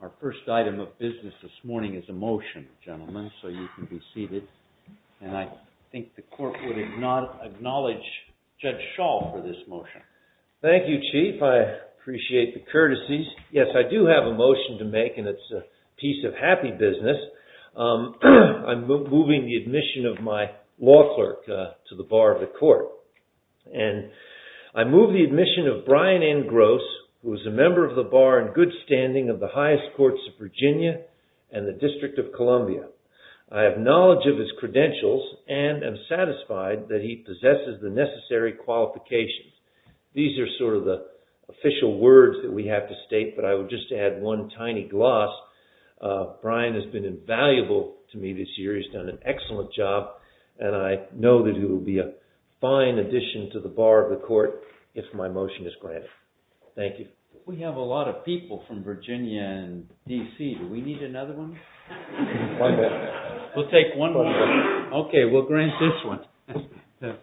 Our first item of business this morning is a motion, gentlemen, so you can be seated. And I think the court would acknowledge Judge Schall for this motion. Thank you, Chief. I appreciate the courtesies. Yes, I do have a motion to make, and it's a piece of happy business. I'm moving the admission of my law clerk to the bar of the court. And I move the admission of Brian N. Gross, who is a member of the bar in good standing of the highest courts of Virginia and the District of Columbia. I have knowledge of his credentials and am satisfied that he possesses the necessary qualifications. These are sort of the official words that we have to state, but I would just add one tiny gloss. Brian has been invaluable to me this year. He's done an excellent job, and I know that he will be a fine addition to the bar of the court if my motion is granted. Thank you. We have a lot of people from Virginia and D.C. Do we need another one? We'll take one more. Okay, we'll grant this one. The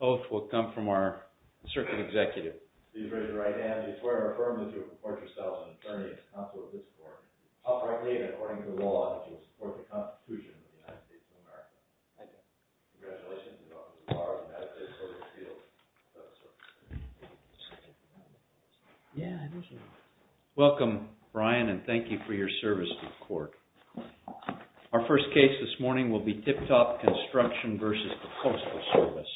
oath will come from our circuit executive. Please raise your right hand. Do you swear or affirm that you will report yourself an attorney and consult with the court? I'll frankly, according to the law, that you will support the Constitution of the United States of America. Thank you. Congratulations. You are the bar of the United States Court of Appeals. Welcome, Brian, and thank you for your service to the court. Our first case this morning will be Tip Top Construction v. The Coastal Service.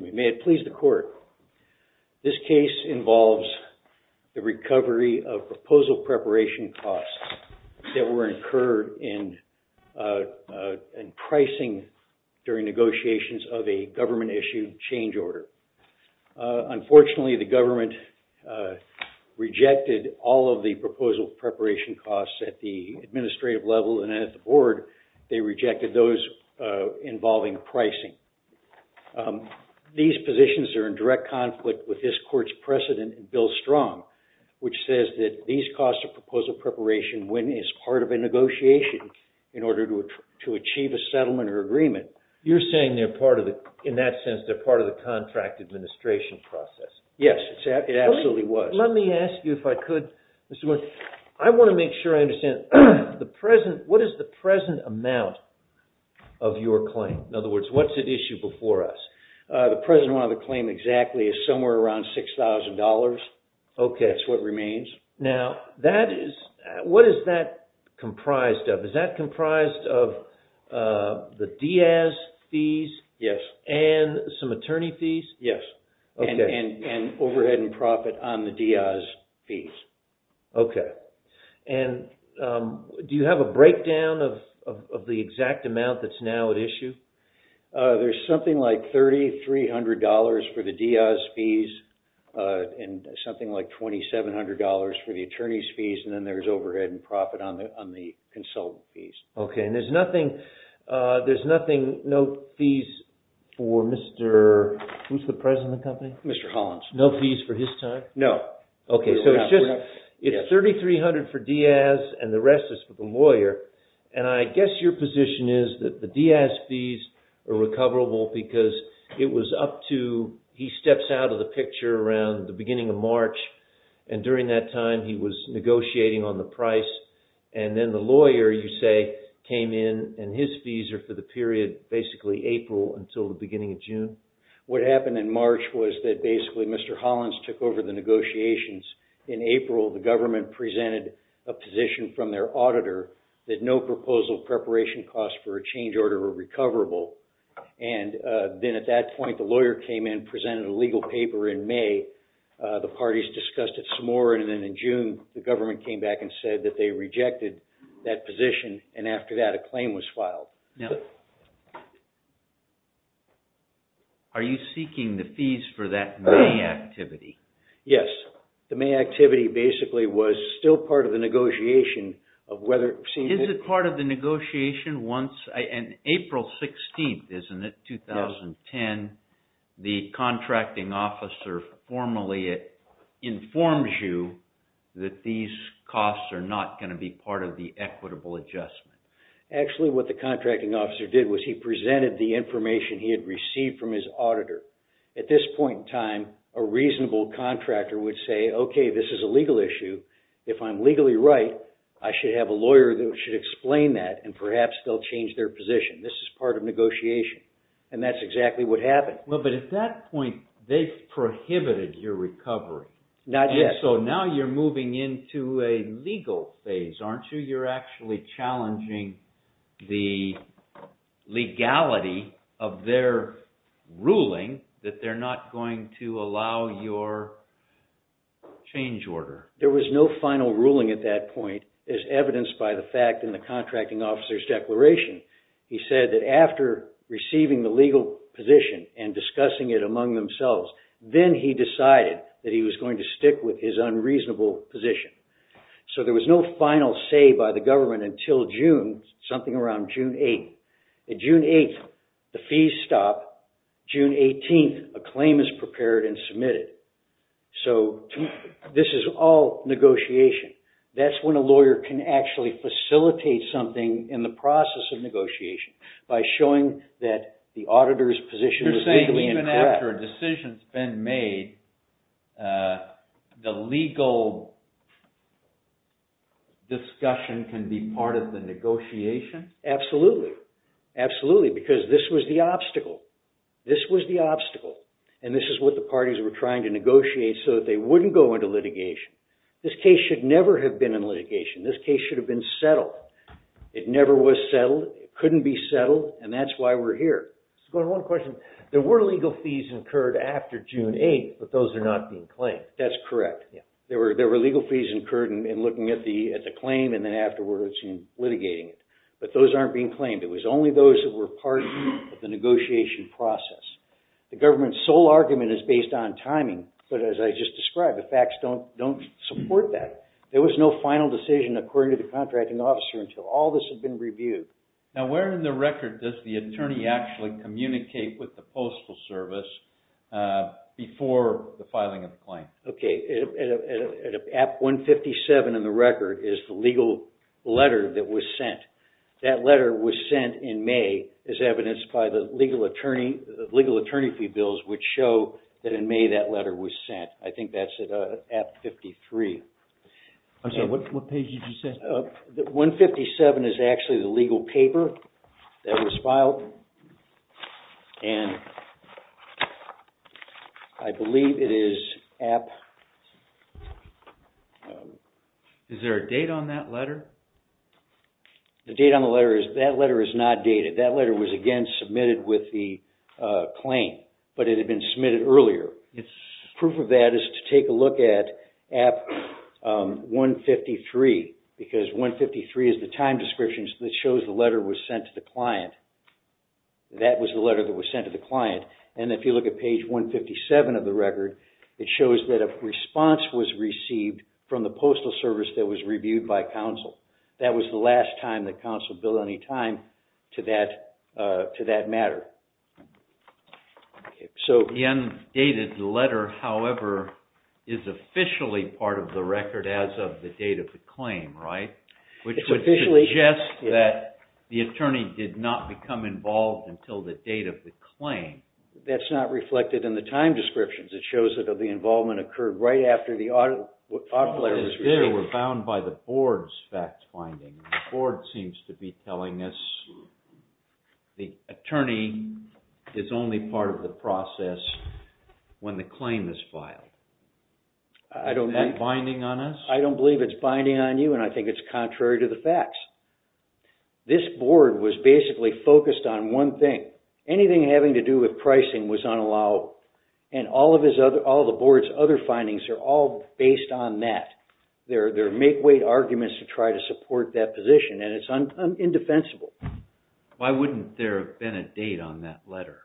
May it please the court. This case involves the recovery of proposal preparation costs that were incurred in pricing during negotiations of a government-issued change order. Unfortunately, the government rejected all of the proposal preparation costs at the administrative level and at the board. They rejected those involving pricing. These positions are in direct conflict with this court's precedent in Bill Strong, which says that these costs of proposal preparation win as part of a negotiation in order to achieve a settlement or agreement. You're saying, in that sense, they're part of the contract administration process. Yes, it absolutely was. Let me ask you, if I could, Mr. Morgan, I want to make sure I understand, what is the present amount of your claim? In other words, what's at issue before us? The present amount of the claim exactly is somewhere around $6,000. Okay. That's what remains. Now, what is that comprised of? Is that comprised of the Diaz fees? Yes. And some attorney fees? Yes. Okay. And overhead and profit on the Diaz fees. Okay. And do you have a breakdown of the exact amount that's now at issue? There's something like $3,300 for the Diaz fees, and something like $2,700 for the attorney's fees, and then there's overhead and profit on the consultant fees. Okay. And there's nothing, no fees for Mr., who's the president of the company? Mr. Hollins. No fees for his time? No. Okay. So it's just, it's $3,300 for Diaz, and the rest is for the lawyer. And I guess your position is that the Diaz fees are recoverable because it was up to, he steps out of the picture around the beginning of March, and during that time he was negotiating on the price, and then the lawyer, you say, came in, and his fees are for the period, basically April until the beginning of June? What happened in March was that basically Mr. Hollins took over the negotiations. In April, the government presented a position from their auditor that no proposal preparation costs for a change order were recoverable. And then at that point, the lawyer came in, presented a legal paper in May. The parties discussed it some more, and then in June, the government came back and said that they rejected that position, and after that, a claim was filed. Now, are you seeking the fees for that May activity? Yes. The May activity basically was still part of the negotiation of whether it seemed... Is it part of the negotiation once, and April 16th, isn't it, 2010, the contracting officer formally informs you that these costs are not going to be part of the equitable adjustment? Actually, what the contracting officer did was he presented the information he had received from his auditor. At this point in time, a reasonable contractor would say, okay, this is a legal issue. If I'm legally right, I should have a lawyer that should explain that, and perhaps they'll change their position. This is part of negotiation, and that's exactly what happened. Well, but at that point, they prohibited your recovery. Not yet. Okay, so now you're moving into a legal phase, aren't you? You're actually challenging the legality of their ruling that they're not going to allow your change order. There was no final ruling at that point, as evidenced by the fact in the contracting officer's declaration. He said that after receiving the legal position and discussing it among themselves, then he decided that he was going to stick with his unreasonable position. So there was no final say by the government until June, something around June 8th. At June 8th, the fees stop. June 18th, a claim is prepared and submitted. So this is all negotiation. That's when a lawyer can actually facilitate something in the process of negotiation by showing that the auditor's position is legally incorrect. You're saying even after a decision's been made, the legal discussion can be part of the negotiation? Absolutely. Absolutely, because this was the obstacle. This was the obstacle, and this is what the parties were trying to negotiate so that they wouldn't go into litigation. This case should never have been in litigation. This case should have been settled. It never was settled. It couldn't be settled, and that's why we're here. Go to one question. There were legal fees incurred after June 8th, but those are not being claimed. That's correct. There were legal fees incurred in looking at the claim and then afterwards in litigating it, but those aren't being claimed. It was only those that were part of the negotiation process. The government's sole argument is based on timing, but as I just described, the facts don't support that. There was no final decision according to the contracting officer until all this had been reviewed. Now, where in the record does the attorney actually communicate with the Postal Service before the filing of the claim? Okay, at 157 in the record is the legal letter that was sent. That letter was sent in May, as evidenced by the legal attorney fee bills, which show that in May that letter was sent. I think that's at 53. I'm sorry, what page did you say? 157 is actually the legal paper that was filed, and I believe it is at… Is there a date on that letter? The date on the letter is… that letter is not dated. That letter was again submitted with the claim, but it had been submitted earlier. Proof of that is to take a look at at 153, because 153 is the time description that shows the letter was sent to the client. That was the letter that was sent to the client, and if you look at page 157 of the record, it shows that a response was received from the Postal Service that was reviewed by counsel. That was the last time that counsel billed any time to that matter. The undated letter, however, is officially part of the record as of the date of the claim, right? Which would suggest that the attorney did not become involved until the date of the claim. That's not reflected in the time descriptions. It shows that the involvement occurred right after the audit letter was received. It was found by the board's fact-finding. The board seems to be telling us the attorney is only part of the process when the claim is filed. Is that binding on us? I don't believe it's binding on you, and I think it's contrary to the facts. This board was basically focused on one thing. Anything having to do with pricing was unallowable, and all of the board's other findings are all based on that. There are make-weight arguments to try to support that position, and it's indefensible. Why wouldn't there have been a date on that letter?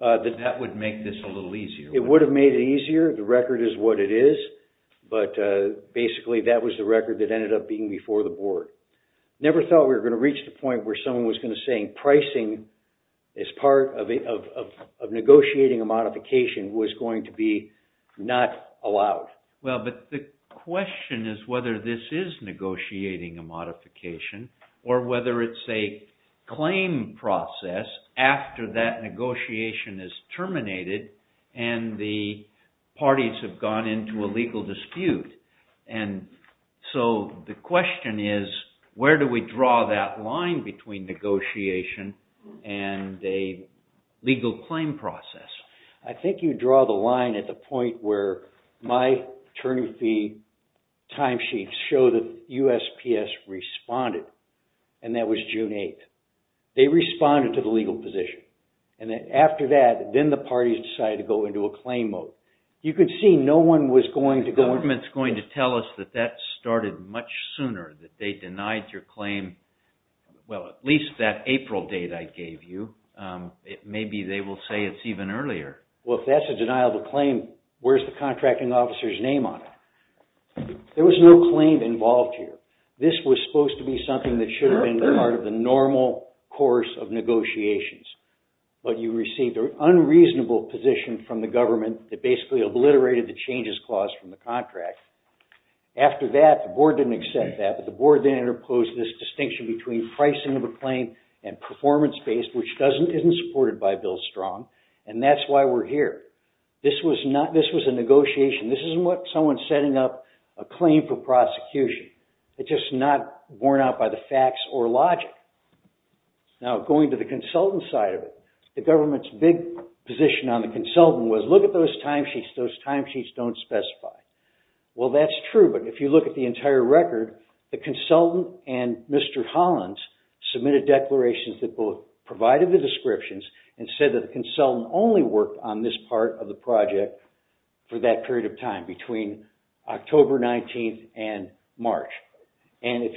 That would make this a little easier. It would have made it easier. The record is what it is, but basically that was the record that ended up being before the board. I never thought we were going to reach the point where someone was going to say pricing as part of negotiating a modification was going to be not allowed. Well, but the question is whether this is negotiating a modification or whether it's a claim process after that negotiation is terminated and the parties have gone into a legal dispute. So the question is, where do we draw that line between negotiation and a legal claim process? I think you draw the line at the point where my term fee timesheets show that USPS responded, and that was June 8th. They responded to the legal position, and then after that, then the parties decided to go into a claim mode. You can see no one was going to go... The government's going to tell us that that started much sooner, that they denied your claim, well, at least that April date I gave you. Maybe they will say it's even earlier. Well, if that's a deniable claim, where's the contracting officer's name on it? There was no claim involved here. This was supposed to be something that should have been part of the normal course of negotiations, but you received an unreasonable position from the government that basically obliterated the changes clause from the contract. After that, the board didn't accept that, but the board then imposed this distinction between pricing of a claim and performance-based, which isn't supported by Bill Strong, and that's why we're here. This was a negotiation. This isn't someone setting up a claim for prosecution. It's just not borne out by the facts or logic. Now, going to the consultant side of it, the government's big position on the consultant was, look at those timesheets, those timesheets don't specify. Well, that's true, but if you look at the entire record, the consultant and Mr. Hollins submitted declarations that both provided the descriptions and said that the consultant only worked on this part of the project for that period of time, between October 19th and March. In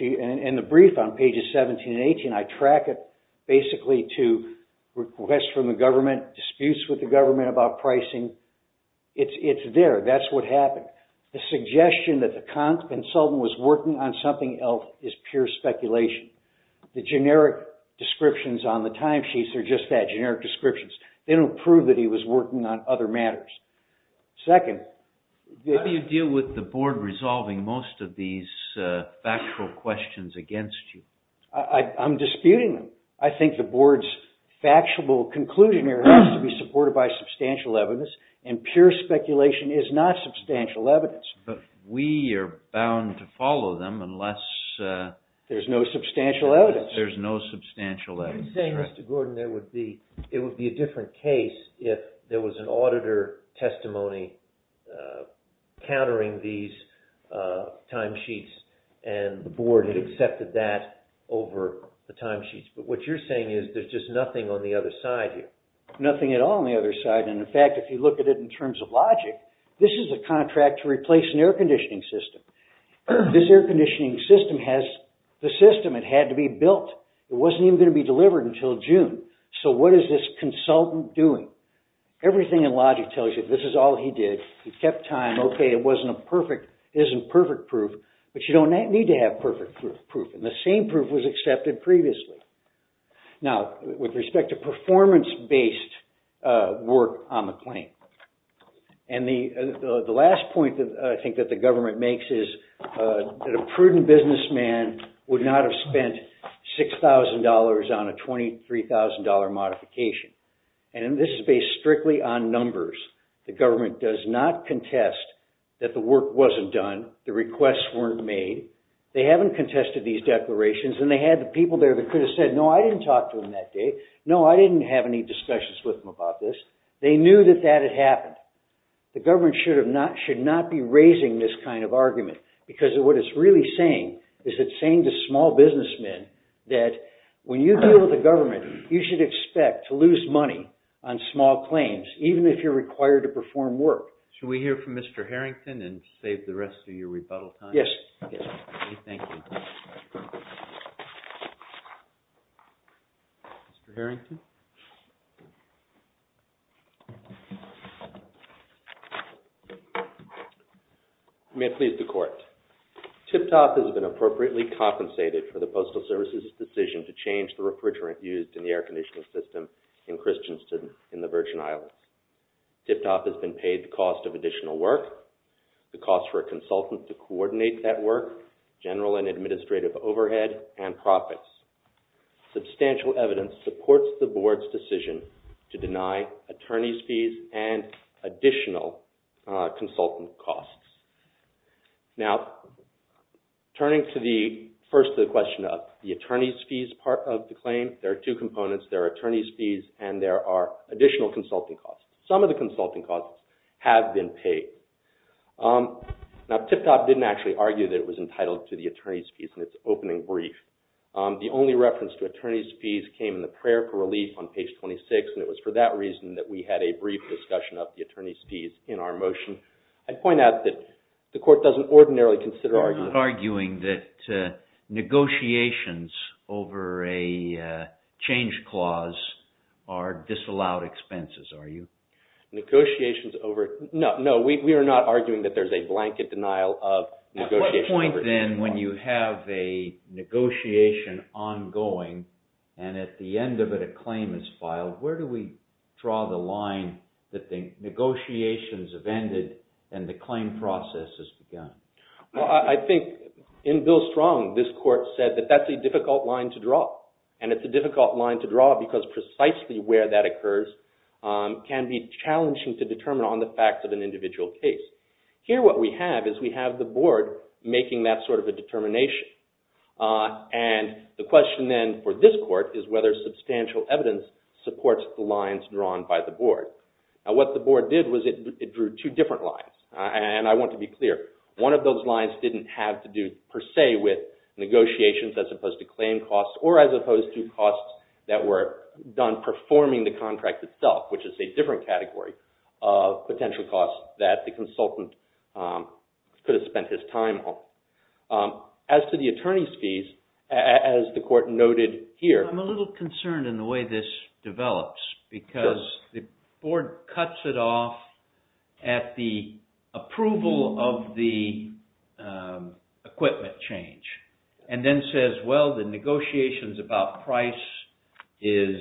the brief on pages 17 and 18, I track it basically to request from the government, disputes with the government about pricing. It's there, that's what happened. The suggestion that the consultant was working on something else is pure speculation. The generic descriptions on the timesheets are just that, generic descriptions. They don't prove that he was working on other matters. Second, How do you deal with the board resolving most of these factual questions against you? I'm disputing them. I think the board's factual conclusion here has to be supported by substantial evidence and pure speculation is not substantial evidence. But we are bound to follow them unless There's no substantial evidence. There's no substantial evidence. You're saying, Mr. Gordon, it would be a different case if there was an auditor testimony countering these timesheets and the board had accepted that over the timesheets. But what you're saying is there's just nothing on the other side here. Nothing at all on the other side. In fact, if you look at it in terms of logic, this is a contract to replace an air conditioning system. This air conditioning system has the system. It had to be built. It wasn't even going to be delivered until June. So what is this consultant doing? Everything in logic tells you this is all he did. He kept time. Okay, it isn't perfect proof. But you don't need to have perfect proof. And the same proof was accepted previously. Now, with respect to performance-based work on the claim. And the last point that I think that the government makes is that a prudent businessman would not have spent $6,000 on a $23,000 modification. And this is based strictly on numbers. The government does not contest that the work wasn't done. The requests weren't made. They haven't contested these declarations. And they had the people there that could have said, no, I didn't talk to him that day. No, I didn't have any discussions with him about this. They knew that that had happened. The government should not be raising this kind of argument. Because what it's really saying is it's saying to small businessmen that when you deal with the government, you should expect to lose money on small claims, even if you're required to perform work. Should we hear from Mr. Harrington and save the rest of your rebuttal time? Yes. Okay, thank you. Mr. Harrington? May it please the Court. TIPTOP has been appropriately compensated for the Postal Service's decision to change the refrigerant used in the air conditioning system in Christiansen in the Virgin Islands. TIPTOP has been paid the cost of additional work, the cost for a consultant to coordinate that work, general and administrative overhead, and profits. Substantial evidence supports the Board's decision to deny attorney's fees and additional consultant costs. Now, turning first to the question of the attorney's fees part of the claim, there are two components. There are attorney's fees and there are additional consultant costs. Some of the consultant costs have been paid. Now, TIPTOP didn't actually argue that it was entitled to the attorney's fees in its opening brief. The only reference to attorney's fees came in the prayer for relief on page 26. And it was for that reason that we had a brief discussion of the attorney's fees in our motion. I'd point out that the Court doesn't ordinarily consider arguing... You're not arguing that negotiations over a change clause are disallowed expenses, are you? Negotiations over... No, no, we are not arguing that there's a blanket denial of negotiations... At what point, then, when you have a negotiation ongoing and at the end of it a claim is filed, where do we draw the line that the negotiations have ended and the claim process has begun? Well, I think in Bill Strong, this Court said that that's a difficult line to draw. And it's a difficult line to draw because precisely where that occurs can be challenging to determine on the fact of an individual case. Here, what we have is we have the Board making that sort of a determination. And the question, then, for this Court is whether substantial evidence supports the lines drawn by the Board. Now, what the Board did was it drew two different lines. And I want to be clear, one of those lines didn't have to do per se with negotiations as opposed to claim costs or as opposed to costs that were done performing the contract itself, which is a different category of potential costs that the consultant could have spent his time on. As to the attorney's fees, as the Court noted here... I'm a little concerned in the way this develops because the Board cuts it off at the approval of the equipment change and then says, well, the negotiations about price is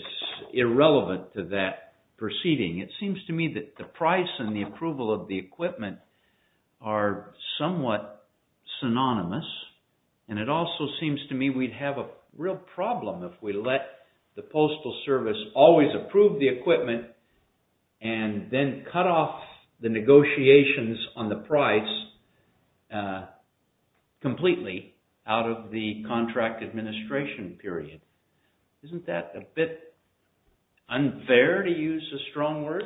irrelevant to that proceeding. It seems to me that the price and the approval of the equipment are somewhat synonymous. And it also seems to me we'd have a real problem if we let the Postal Service always approve the equipment and then cut off the negotiations on the price completely out of the contract administration period. Isn't that a bit unfair, to use a strong word?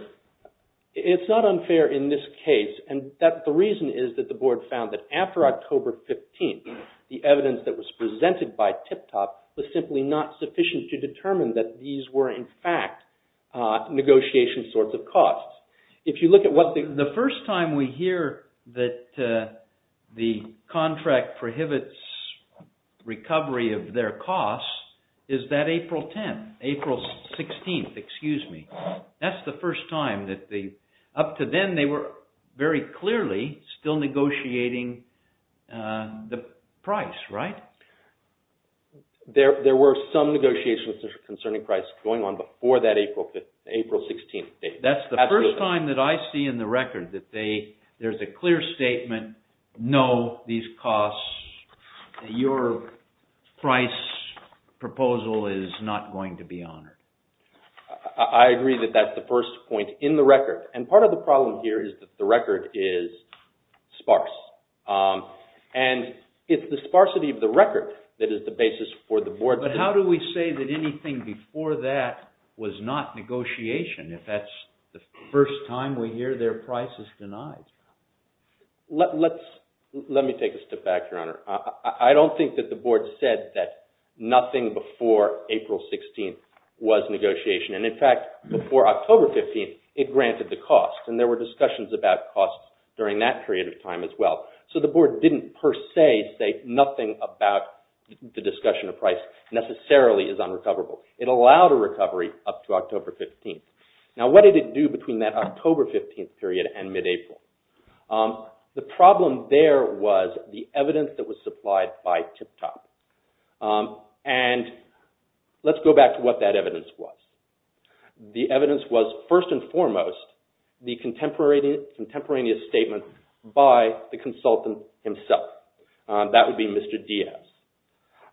It's not unfair in this case. And the reason is that the Board found that after October 15th, the evidence that was presented by TIPTOP was simply not sufficient to determine that these were in fact negotiation sorts of costs. If you look at what the... The first time we hear that the contract prohibits recovery of their costs is that April 10th, April 16th, excuse me. That's the first time that they... Up to then, they were very clearly still negotiating the price, right? There were some negotiations concerning price going on before that April 16th date. That's the first time that I see in the record that there's a clear statement, no, these costs, your price proposal is not going to be honored. I agree that that's the first point in the record. And part of the problem here is that the record is sparse. And it's the sparsity of the record that is the basis for the Board... But how do we say that anything before that was not negotiation if that's the first time we hear their price is denied? Let me take a step back, Your Honor. I don't think that the Board said that nothing before April 16th was negotiation. And in fact, before October 15th, it granted the cost. And there were discussions about costs during that period of time as well. So the Board didn't per se say nothing about the discussion of price necessarily is unrecoverable. It allowed a recovery up to October 15th. Now, what did it do between that October 15th period and mid-April? The problem there was the evidence that was supplied by TIPTOP. And let's go back to what that evidence was. The evidence was, first and foremost, the contemporaneous statement by the consultant himself. That would be Mr. Diaz.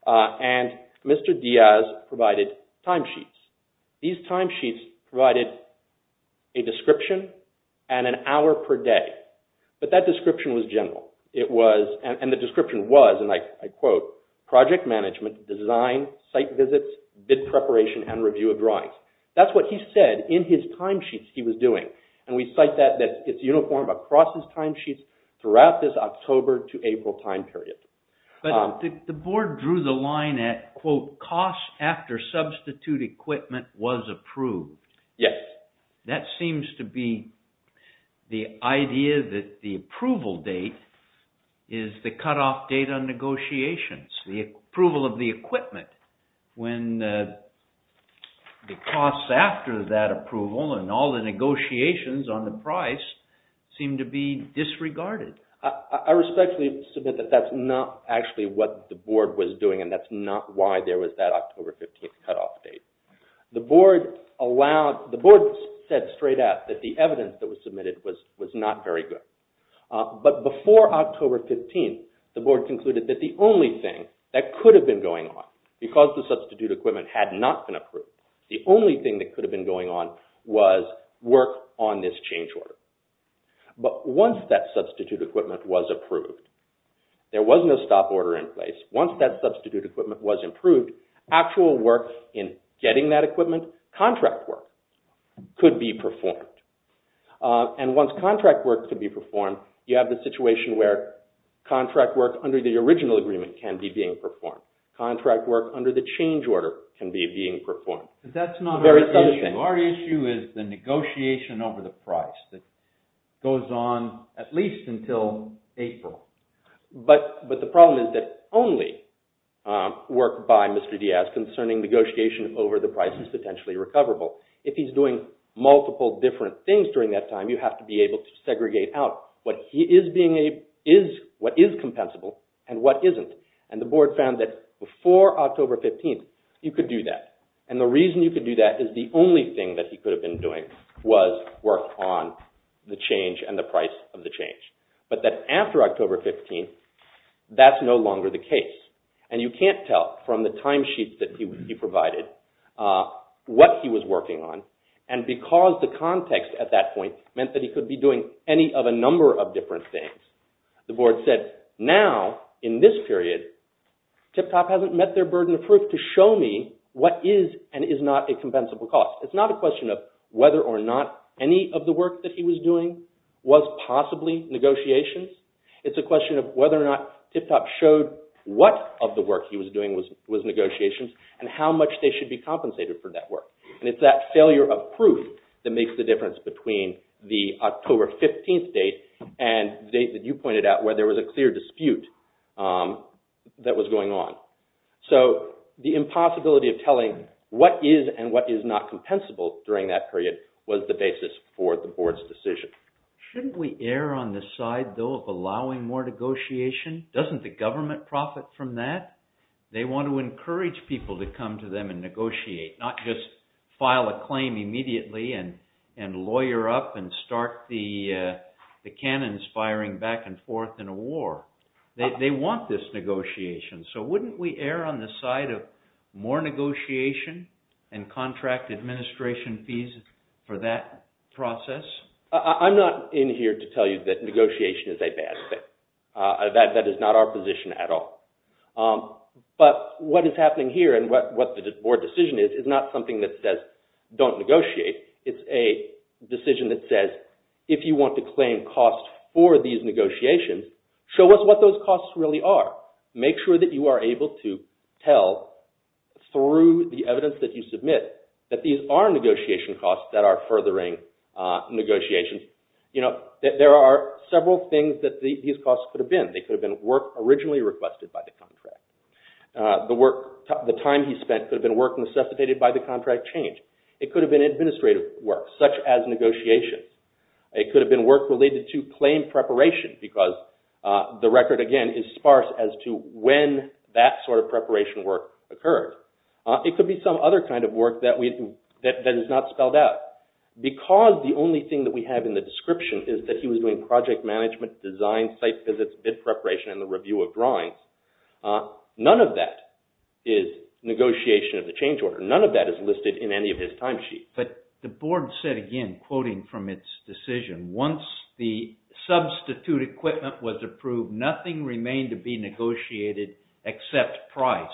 And Mr. Diaz provided timesheets. These timesheets provided a description and an hour per day. But that description was general. And the description was, and I quote, project management, design, site visits, bid preparation, and review of drawings. That's what he said in his timesheets he was doing. And we cite that it's uniform across his timesheets throughout this October to April time period. But the Board drew the line at, quote, costs after substitute equipment was approved. Yes. That seems to be the idea that the approval date is the cutoff date on negotiations. The approval of the equipment when the costs after that approval and all the negotiations on the price seem to be disregarded. I respectfully submit that that's not actually what the Board was doing and that's not why there was that October 15 cutoff date. The Board allowed, the Board said straight out that the evidence that was submitted was not very good. But before October 15, the Board concluded that the only thing that could have been going on, because the substitute equipment had not been approved, the only thing that could have been going on was work on this change order. But once that substitute equipment was approved, there was no stop order in place. Once that substitute equipment was approved, actual work in getting that equipment, contract work, could be performed. And once contract work could be performed, you have the situation where contract work under the original agreement can be being performed. Contract work under the change order can be being performed. But that's not our issue. The issue is the negotiation over the price that goes on at least until April. But the problem is that only work by Mr. Diaz concerning negotiation over the price is potentially recoverable. If he's doing multiple different things during that time, you have to be able to segregate out what is compensable and what isn't. And the Board found that before October 15, you could do that. And the reason you could do that is the only thing that he could have been doing was work on the change and the price of the change. But then after October 15, that's no longer the case. And you can't tell from the timesheets that he provided what he was working on. And because the context at that point meant that he could be doing any of a number of different things, the Board said, now, in this period, TIPTOP hasn't met their burden of proof to show me what is and is not a compensable cost. It's not a question of whether or not any of the work that he was doing was possibly negotiations. It's a question of whether or not TIPTOP showed what of the work he was doing was negotiations and how much they should be compensated for that work. And it's that failure of proof that makes the difference between the October 15 date and the date that you pointed out where there was a clear dispute that was going on. So the impossibility of telling what is and what is not compensable during that period was the basis for the Board's decision. Shouldn't we err on the side, though, of allowing more negotiation? Doesn't the government profit from that? They want to encourage people to come to them and negotiate, not just file a claim immediately and lawyer up and start the cannons firing back and forth in a war. They want this negotiation. So wouldn't we err on the side of more negotiation and contract administration fees for that process? I'm not in here to tell you that negotiation is a bad thing. That is not our position at all. But what is happening here and what the Board decision is, is not something that says don't negotiate. It's a decision that says if you want to claim costs for these negotiations, show us what those costs really are. Make sure that you are able to tell through the evidence that you submit that these are negotiation costs that are furthering negotiations. There are several things that these costs could have been. They could have been work originally requested by the contract. The time he spent could have been work necessitated by the contract change. It could have been administrative work, such as negotiations. It could have been work related to claim preparation because the record, again, is sparse as to when that sort of preparation work occurred. It could be some other kind of work that is not spelled out. Because the only thing that we have in the description is that he was doing project management, design, site visits, bid preparation, and the review of drawings, none of that is negotiation of the change order. None of that is listed in any of his timesheet. But the board said again, quoting from its decision, once the substitute equipment was approved, nothing remained to be negotiated except price.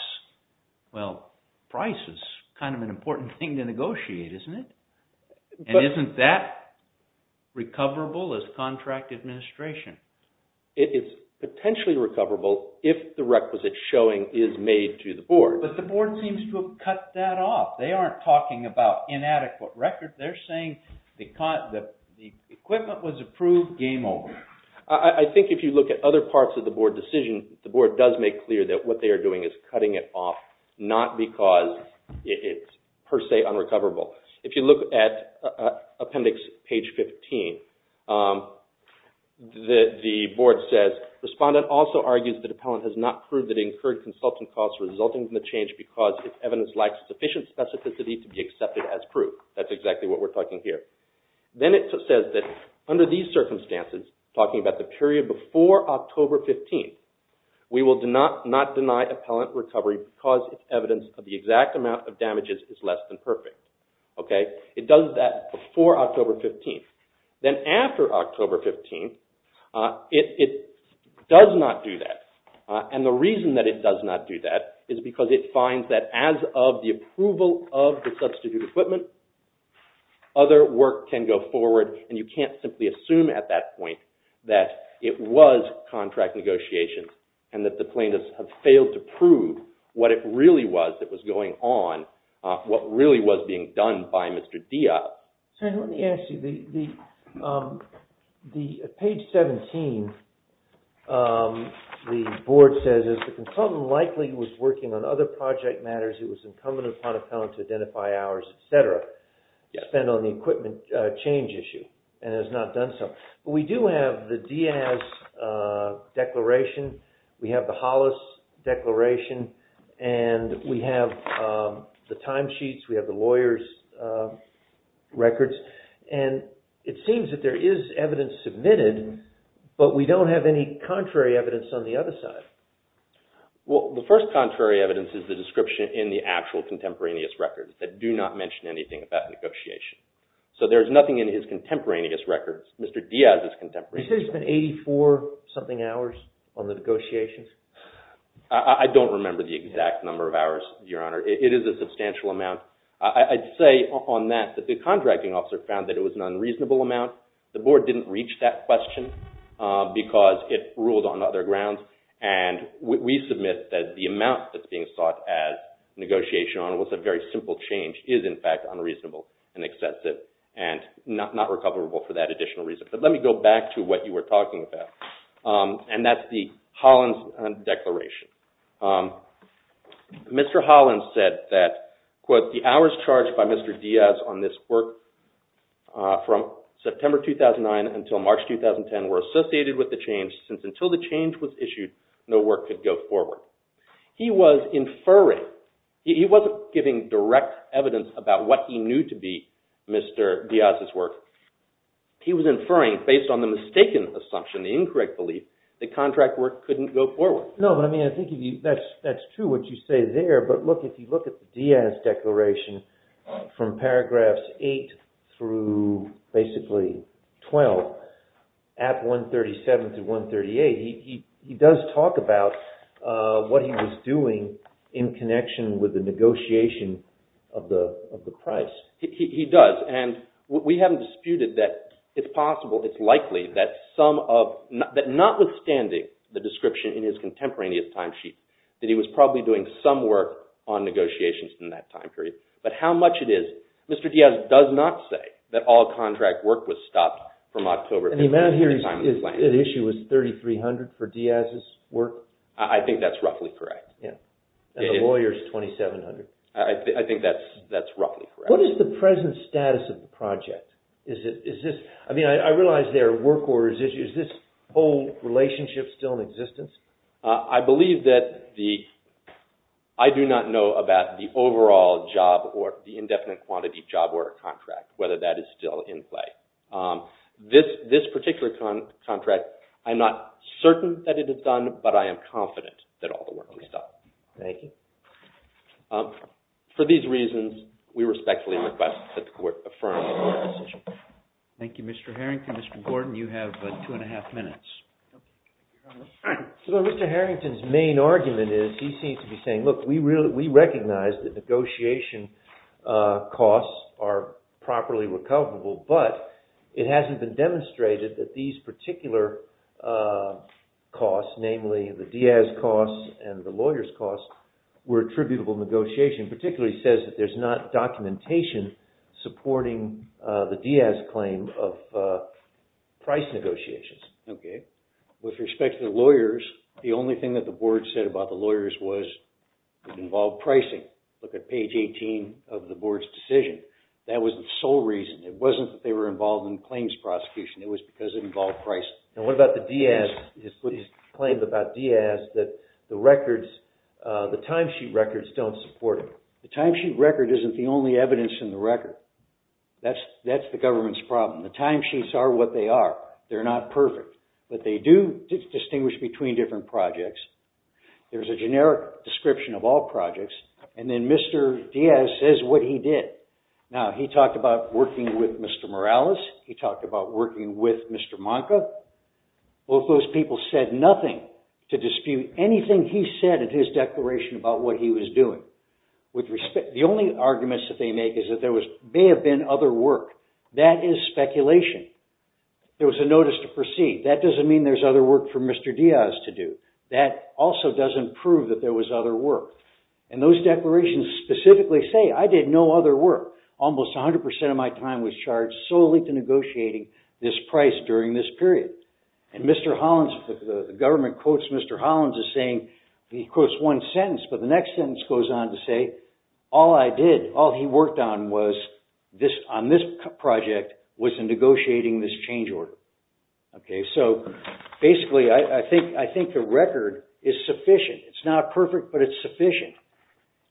Well, price is kind of an important thing to negotiate, isn't it? And isn't that recoverable as contract administration? It is potentially recoverable if the requisite showing is made to the board. But the board seems to have cut that off. They aren't talking about inadequate record. They're saying the equipment was approved, game over. I think if you look at other parts of the board decision, the board does make clear that what they are doing is cutting it off, not because it's per se unrecoverable. If you look at appendix page 15, the board says, respondent also argues that appellant has not proved that incurred consultant costs resulting from the change because its evidence lacks sufficient specificity to be accepted as proof. That's exactly what we're talking here. Then it says that under these circumstances, talking about the period before October 15, we will not deny appellant recovery because its evidence of the exact amount of damages is less than perfect. It does that before October 15. Then after October 15, it does not do that. And the reason that it does not do that is because it finds that as of the approval of the substitute equipment, other work can go forward and you can't simply assume at that point that it was contract negotiations and that the plaintiffs have failed to prove what it really was that was going on, what really was being done by Mr. Diaz. Let me ask you, page 17, the board says, the consultant likely was working on other project matters who was incumbent upon appellant to identify hours, etc., spent on the equipment change issue and has not done so. But we do have the Diaz declaration, we have the Hollis declaration, and we have the time sheets, we have the lawyer's records, and it seems that there is evidence submitted, but we don't have any contrary evidence on the other side. Well, the first contrary evidence is the description in the actual contemporaneous records that do not mention anything about negotiation. So there is nothing in his contemporaneous records, Mr. Diaz's contemporaneous records. You said he spent 84-something hours on the negotiations? I don't remember the exact number of hours, Your Honor. It is a substantial amount. I'd say on that that the contracting officer found that it was an unreasonable amount. The board didn't reach that question because it ruled on other grounds, and we submit that the amount that's being sought as negotiation on what's a very simple change is, in fact, unreasonable and excessive and not recoverable for that additional reason. But let me go back to what you were talking about, and that's the Hollis declaration. Mr. Hollis said that, quote, the hours charged by Mr. Diaz on this work from September 2009 until March 2010 were associated with the change since until the change was issued, no work could go forward. He was inferring. He wasn't giving direct evidence about what he knew to be Mr. Diaz's work. He was inferring based on the mistaken assumption, the incorrect belief, that contract work couldn't go forward. No, but I mean, I think that's true what you say there, but look, if you look at the Diaz declaration from paragraphs 8 through basically 12 at 137 through 138, he does talk about what he was doing in connection with the negotiation of the price. He does, and we haven't disputed that it's possible, it's likely, that notwithstanding the description in his contemporaneous timesheet that he was probably doing some work on negotiations in that time period, but how much it is, Mr. Diaz does not say that all contract work was stopped from October 2010. And the amount here at issue was 3,300 for Diaz's work? I think that's roughly correct. Yeah, and the lawyer's 2,700. I think that's roughly correct. What is the present status of the project? I mean, I realize there are work orders issues. Is this whole relationship still in existence? I believe that the, I do not know about the overall job or the indefinite quantity job order contract, whether that is still in play. This particular contract, I'm not certain that it is done, but I am confident that all the work was stopped. Thank you. For these reasons, we respectfully request that the court affirm the court's decision. Thank you, Mr. Harrington. Thank you, Mr. Gordon. You have two and a half minutes. Mr. Harrington's main argument is, he seems to be saying, look, we recognize that negotiation costs are properly recoverable, but it hasn't been demonstrated that these particular costs, namely the Diaz costs and the lawyer's costs, were attributable negotiation, particularly says that there's not documentation supporting the Diaz claim of price negotiations. Okay. With respect to the lawyers, the only thing that the board said about the lawyers was it involved pricing. Look at page 18 of the board's decision. That was the sole reason. It wasn't that they were involved in claims prosecution. It was because it involved pricing. And what about the Diaz, his claims about Diaz, that the records, the timesheet records don't support it. The timesheet record isn't the only evidence in the record. That's the government's problem. The timesheets are what they are. They're not perfect, but they do distinguish between different projects. There's a generic description of all projects, and then Mr. Diaz says what he did. Now, he talked about working with Mr. Morales. He talked about working with Mr. Monca. Both those people said nothing to dispute anything he said in his declaration about what he was doing. The only arguments that they make is that there may have been other work. That is speculation. There was a notice to proceed. That doesn't mean there's other work for Mr. Diaz to do. That also doesn't prove that there was other work. And those declarations specifically say, I did no other work. Almost 100% of my time was charged solely to negotiating this price during this period. And Mr. Hollins, the government quotes Mr. Hollins as saying, he quotes one sentence, but the next sentence goes on to say, all I did, all he worked on was, on this project, was in negotiating this change order. Okay, so basically, I think the record is sufficient. It's not perfect, but it's sufficient.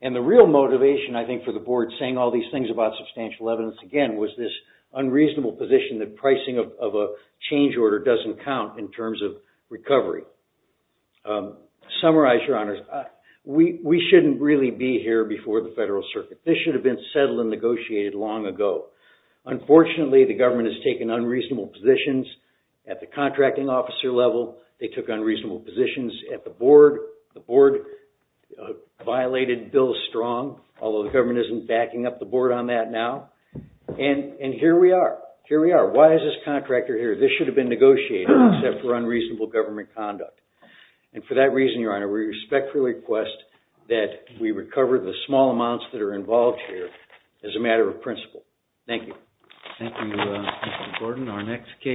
And the real motivation, I think, for the board saying all these things about substantial evidence again was this unreasonable position that pricing of a change order doesn't count in terms of recovery. Summarize, Your Honors. We shouldn't really be here before the Federal Circuit. This should have been settled and negotiated long ago. Unfortunately, the government has taken unreasonable positions at the contracting officer level. They took unreasonable positions at the board. The board violated Bill Strong, although the government isn't backing up the board on that now. And here we are. Here we are. Why is this contractor here? This should have been negotiated except for unreasonable government conduct. And for that reason, Your Honor, we respectfully request that we recover the small amounts that are involved here as a matter of principle. Thank you. Thank you, Mr. Gordon.